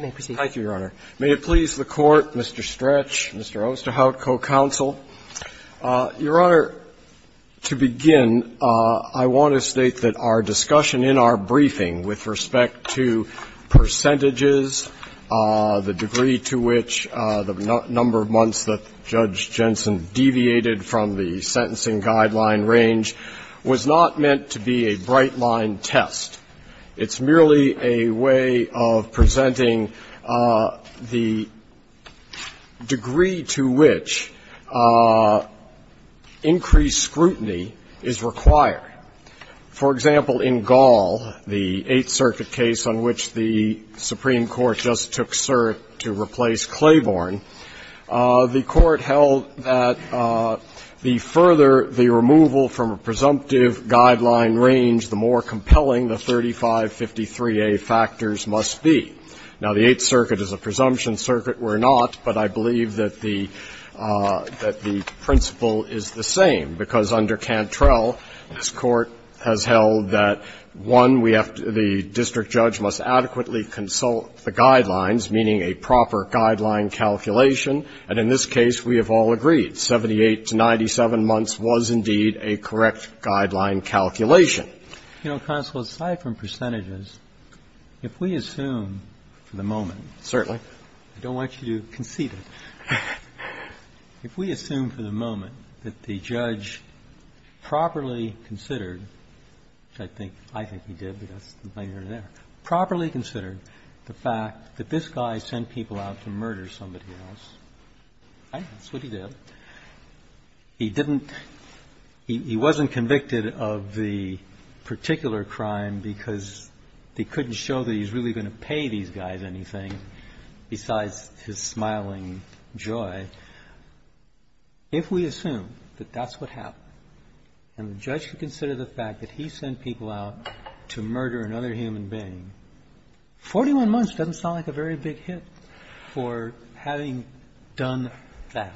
May it please the Court, Mr. Stretch, Mr. Osterhout, co-counsel. Your Honor, to begin, I want to state that our discussion in our briefing with respect to percentages, the degree to which the number of months that Judge Jensen deviated from the sentencing guideline range, was not meant to be a bright-line test. It's merely a way of presenting the degree to which increased scrutiny is required. For example, in Gall, the Eighth Circuit case on which the Supreme Court just took cert to replace Claiborne, the Court held that the further the removal from a presumptive guideline range, the more compelling the 3553A factors must be. Now, the Eighth Circuit is a presumption circuit, we're not, but I believe that the principle is the same, because under Cantrell, this Court has held that, one, we have agreed the district judge must adequately consult the guidelines, meaning a proper guideline calculation, and in this case, we have all agreed, 78 to 97 months was indeed a correct guideline calculation. You know, counsel, aside from percentages, if we assume for the moment. Certainly. I don't want you to concede it. If we assume for the moment that the judge properly considered, which I think he did there, properly considered, the fact that this guy sent people out to murder somebody else, right, that's what he did, he didn't, he wasn't convicted of the particular crime because he couldn't show that he was really going to pay these guys anything besides his smiling joy, if we assume that that's what happened, and the judge could consider the fact that he sent people out to murder another human being, 41 months doesn't sound like a very big hit for having done that.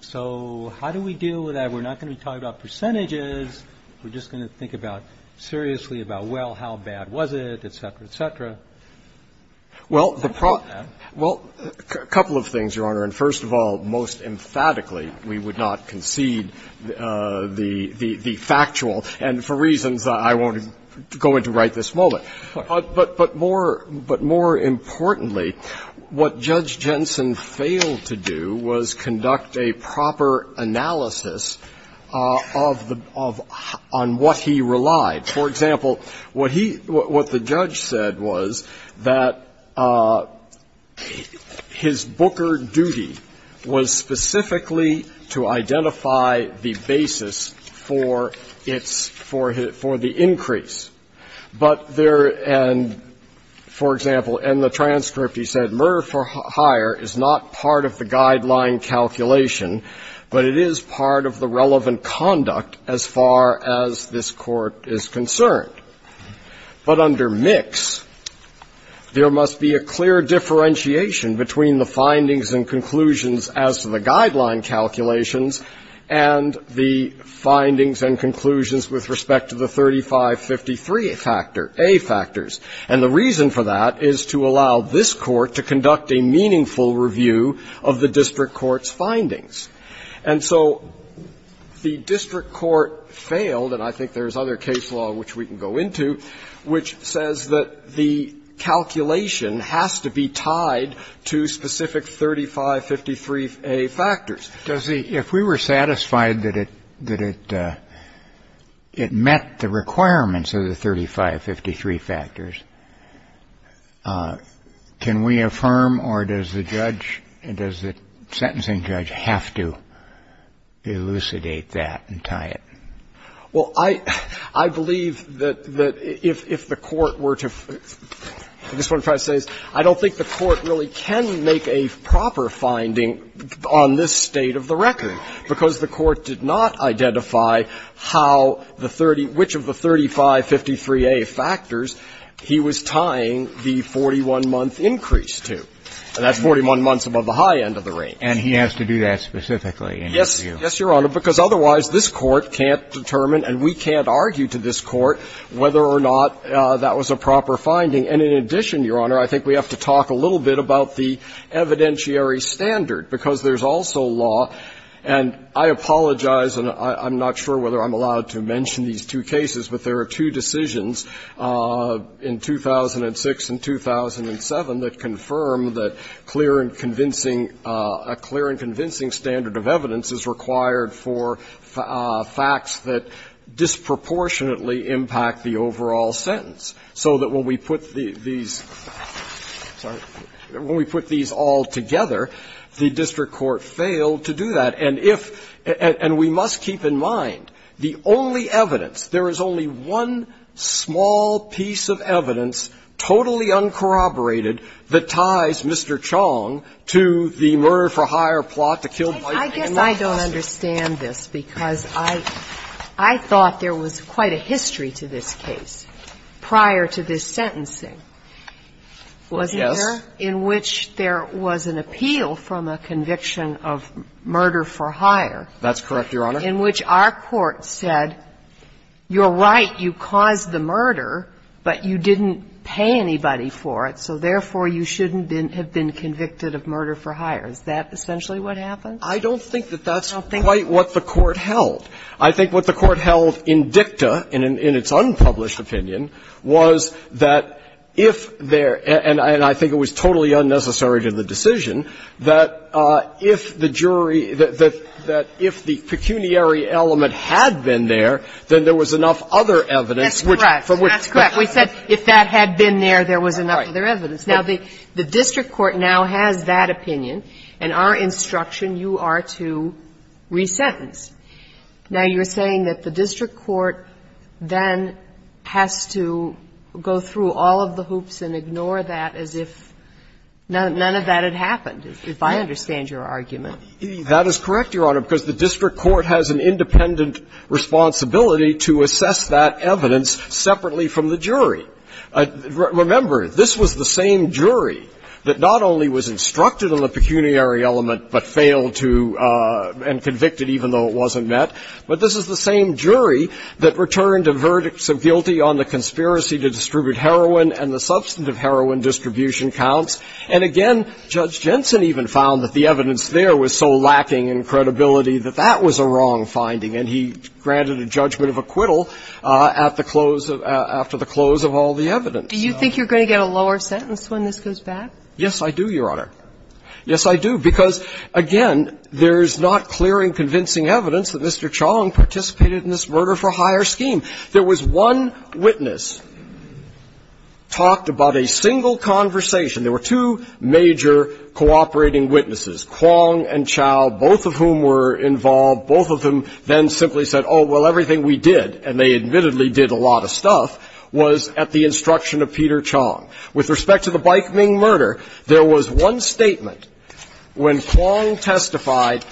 So how do we deal with that? We're not going to be talking about percentages, we're just going to think about, seriously about, well, how bad was it, et cetera, et cetera. Well, the problem, well, a couple of things, Your Honor, and first of all, most emphatically, we would not concede the factual, and for reasons I won't go into right this moment. But more importantly, what Judge Jensen failed to do was conduct a proper analysis of the, on what he relied. For example, what he, what the judge said was that his Booker duty was specifically to identify the basis for its, for the increase. But there, and for example, in the transcript he said, murder for hire is not part of the guideline calculation, but it is part of the relevant conduct as far as this Court is concerned. But under Mix, there must be a clear differentiation between the findings and conclusions as to the guideline calculations, and the findings and conclusions with respect to the 3553 factor, A factors. And the reason for that is to allow this Court to conduct a meaningful review of the district court's findings. And so the district court failed, and I think there's other case law which we can go into, which says that the calculation has to be tied to specific 3553, A factors. Does the, if we were satisfied that it, that it, it met the requirements of the 3553 factors, can we affirm, or does the judge, does the sentencing judge have to elucidate that and tie it? Well, I, I believe that, that if, if the Court were to, I just want to try to say this, I don't think the Court really can make a proper finding on this state of the record, because the Court did not identify how the 30, which of the 3553, A factors he was tying the 41-month increase to. And that's 41 months above the high end of the range. And he has to do that specifically in his review. Yes, Your Honor, because otherwise this Court can't determine, and we can't argue to this Court, whether or not that was a proper finding. And in addition, Your Honor, I think we have to talk a little bit about the evidentiary standard, because there's also law, and I apologize, and I'm not sure whether I'm allowed to mention these two cases, but there are two decisions in 2006 and 2007 that confirm that clear and convincing, a clear and convincing standard of evidence is required for facts that disproportionately impact the overall sentence. So that when we put these, sorry, when we put these all together, the district court failed to do that. And if, and we must keep in mind, the only evidence, there is only one small piece of evidence, totally uncorroborated, that ties Mr. Chong to the murder-for-hire plot, the kill-by-pay law process. I guess I don't understand this, because I thought there was quite a history to this case prior to this sentencing, wasn't there, in which there was an appeal from a conviction of murder-for-hire. That's correct, Your Honor. In which our court said, you're right, you caused the murder, but you didn't pay anybody for it, so therefore you shouldn't have been convicted of murder-for-hire. Is that essentially what happened? I don't think that that's quite what the court held. I think what the court held in dicta, in its unpublished opinion, was that if there – and I think it was totally unnecessary to the decision – that if the jury, that if the pecuniary element had been there, then there was enough other evidence which from which. That's correct. We said if that had been there, there was enough other evidence. Now, the district court now has that opinion, and our instruction, you are to resentence. Now, you're saying that the district court then has to go through all of the hoops and ignore that as if none of that had happened, if I understand your argument. That is correct, Your Honor, because the district court has an independent Remember, this was the same jury that not only was instructed on the pecuniary element but failed to – and convicted even though it wasn't met, but this is the same jury that returned a verdict of guilty on the conspiracy to distribute heroin and the substantive heroin distribution counts, and again, Judge Jensen even found that the evidence there was so lacking in credibility that that was a wrong finding, and he granted a judgment of acquittal at the close of – after the close of all the evidence. Do you think you're going to get a lower sentence when this goes back? Yes, I do, Your Honor. Yes, I do, because, again, there's not clear and convincing evidence that Mr. Chong participated in this murder-for-hire scheme. There was one witness talked about a single conversation. There were two major cooperating witnesses, Kwong and Chow, both of whom were involved. Both of them then simply said, oh, well, everything we did, and they admittedly did a lot of stuff, was at the instruction of Peter Chong. With respect to the Baik Ming murder, there was one statement when Kwong testified,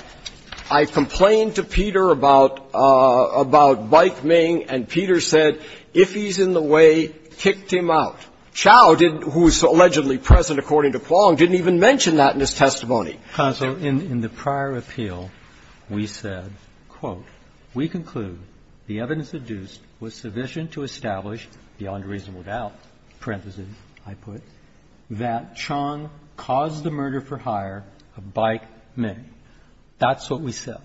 I complained to Peter about – about Baik Ming, and Peter said, if he's in the way, kicked him out. Chow, who was allegedly present according to Kwong, didn't even mention that in his testimony. Counsel, in the prior appeal, we said, quote, we conclude the evidence induced was sufficient to establish beyond a reasonable doubt, parentheses, I put, that Chong caused the murder-for-hire of Baik Ming. That's what we said.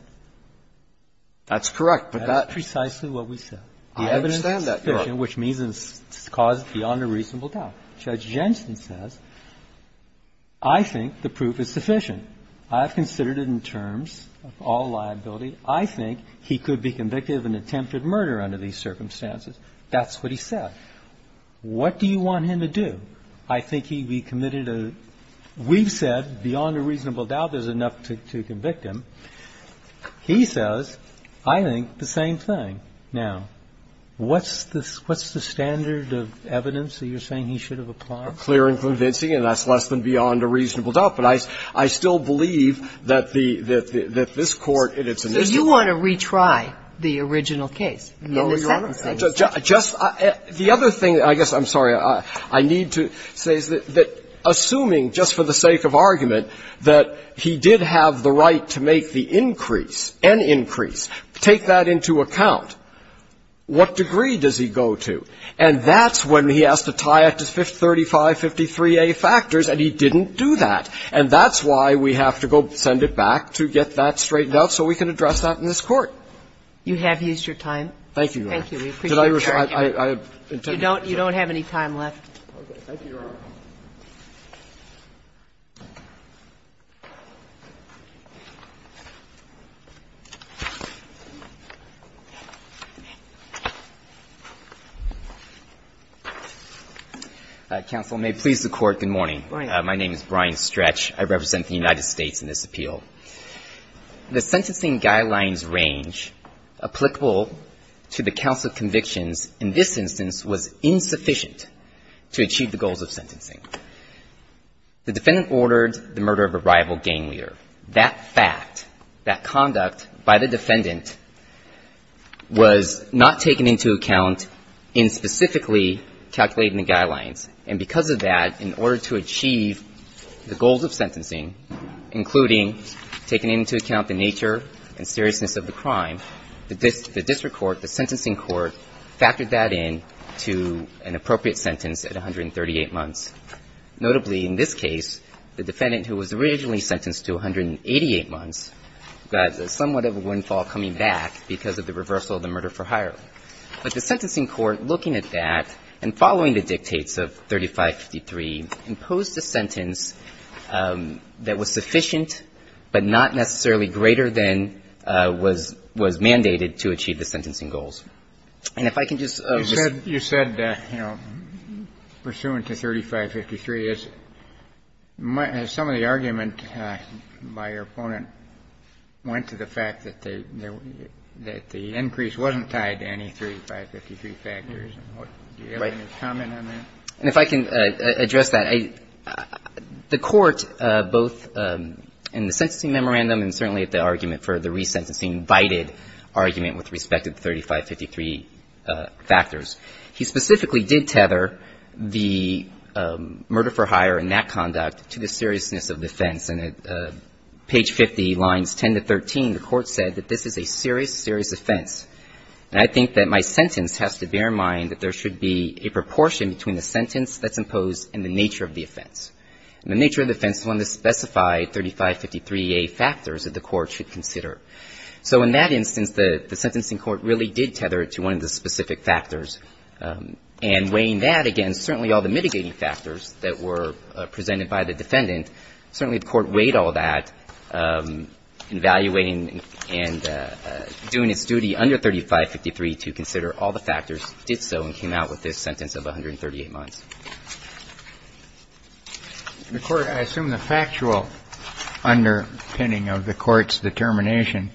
That's correct, but that's – That's precisely what we said. I understand that, Your Honor. The evidence is sufficient, which means it's caused beyond a reasonable doubt. Judge Jensen says, I think the proof is sufficient. I've considered it in terms of all liability. I think he could be convicted of an attempted murder under these circumstances. That's what he said. What do you want him to do? I think he be committed a – we've said beyond a reasonable doubt there's enough to convict him. He says, I think the same thing. Now, what's the standard of evidence that you're saying he should have applied? Clear and convincing, and that's less than beyond a reasonable doubt. But I still believe that the – that this Court, in its initial – So you want to retry the original case in the sentencing? No, Your Honor. Just – the other thing, I guess I'm sorry, I need to say is that assuming, just for the sake of argument, that he did have the right to make the increase, an increase, take that into account, what degree does he go to? And that's when he has to tie it to 3553A factors, and he didn't do that. And that's why we have to go send it back to get that straightened out so we can address that in this Court. You have used your time. Thank you, Your Honor. Thank you. We appreciate your argument. I have intended to do that. You don't have any time left. Okay. Thank you, Your Honor. Counsel, may it please the Court, good morning. Good morning. My name is Brian Stretch. I represent the United States in this appeal. The sentencing guidelines range applicable to the counsel convictions in this instance was insufficient to achieve the goals of sentencing. The defendant ordered the murder of a rival gang leader. That fact, that conduct by the defendant was not taken into account in specifically calculating the guidelines, and because of that, in order to achieve the goals of sentencing, including taking into account the nature and seriousness of the crime, the district court, the sentencing court factored that in to an appropriate sentence at 138 months. Notably, in this case, the defendant who was originally sentenced to 188 months got somewhat of a windfall coming back because of the reversal of the murder for hire. But the sentencing court, looking at that and following the dictates of 3553, imposed a sentence that was sufficient but not necessarily greater than was mandated to achieve the sentencing goals. And if I can just resume. You said, you know, pursuant to 3553, as some of the argument by your opponent went to the fact that the increase wasn't tied to any 3553 factors. Do you have any comment on that? And if I can address that, the Court, both in the sentencing memorandum and certainly at the argument for the resentencing, invited argument with respect to the 3553 factors. He specifically did tether the murder for hire and that conduct to the seriousness of the offense. And at page 50, lines 10 to 13, the Court said that this is a serious, serious offense. And I think that my sentence has to bear in mind that there should be a proportion between the sentence that's imposed and the nature of the offense. And the nature of the offense is one that specified 3553A factors that the Court should consider. So in that instance, the sentencing Court really did tether it to one of the specific factors. And weighing that against certainly all the mitigating factors that were presented by the defendant, certainly the Court weighed all that, evaluating and doing its duty under 3553 to consider all the factors, did so, and came out with this sentence of 138 months. The Court, I assume the factual underpinning of the Court's determination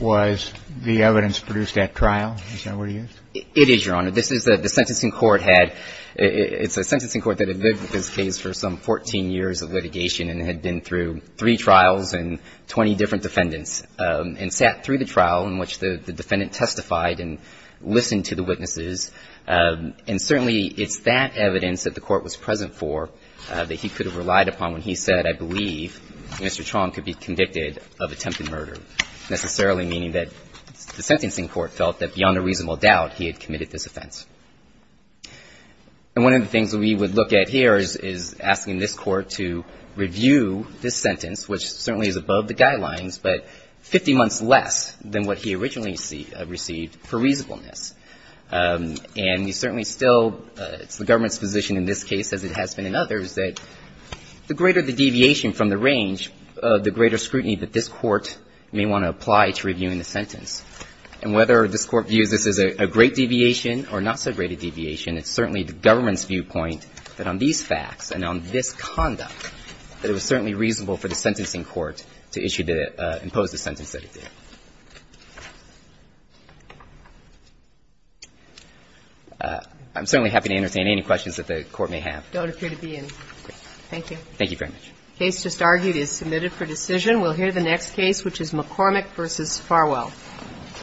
was the evidence produced at trial. Is that what it is? It is, Your Honor. This is the sentencing Court had. It's a sentencing Court that had lived with this case for some 14 years of litigation and had been through three trials and 20 different defendants and sat through the trial in which the defendant testified and listened to the witnesses. And certainly it's that evidence that the Court was present for that he could have relied upon when he said, I believe Mr. Chong could be convicted of attempted murder, necessarily meaning that the sentencing Court felt that beyond a reasonable doubt he had committed this offense. And one of the things we would look at here is asking this Court to review this sentence, which certainly is above the guidelines, but 50 months less than what he originally received for reasonableness. And you certainly still, it's the government's position in this case, as it has been in others, that the greater the deviation from the range, the greater scrutiny that this Court may want to apply to reviewing the sentence. And whether this Court views this as a great deviation or not so great a deviation, it's certainly the government's viewpoint that on these facts and on this conduct that it was certainly reasonable for the sentencing Court to issue to impose the sentence that it did. I'm certainly happy to entertain any questions that the Court may have. Don't appear to be in. Thank you. Thank you very much. The case just argued is submitted for decision. We'll hear the next case, which is McCormick v. Farwell.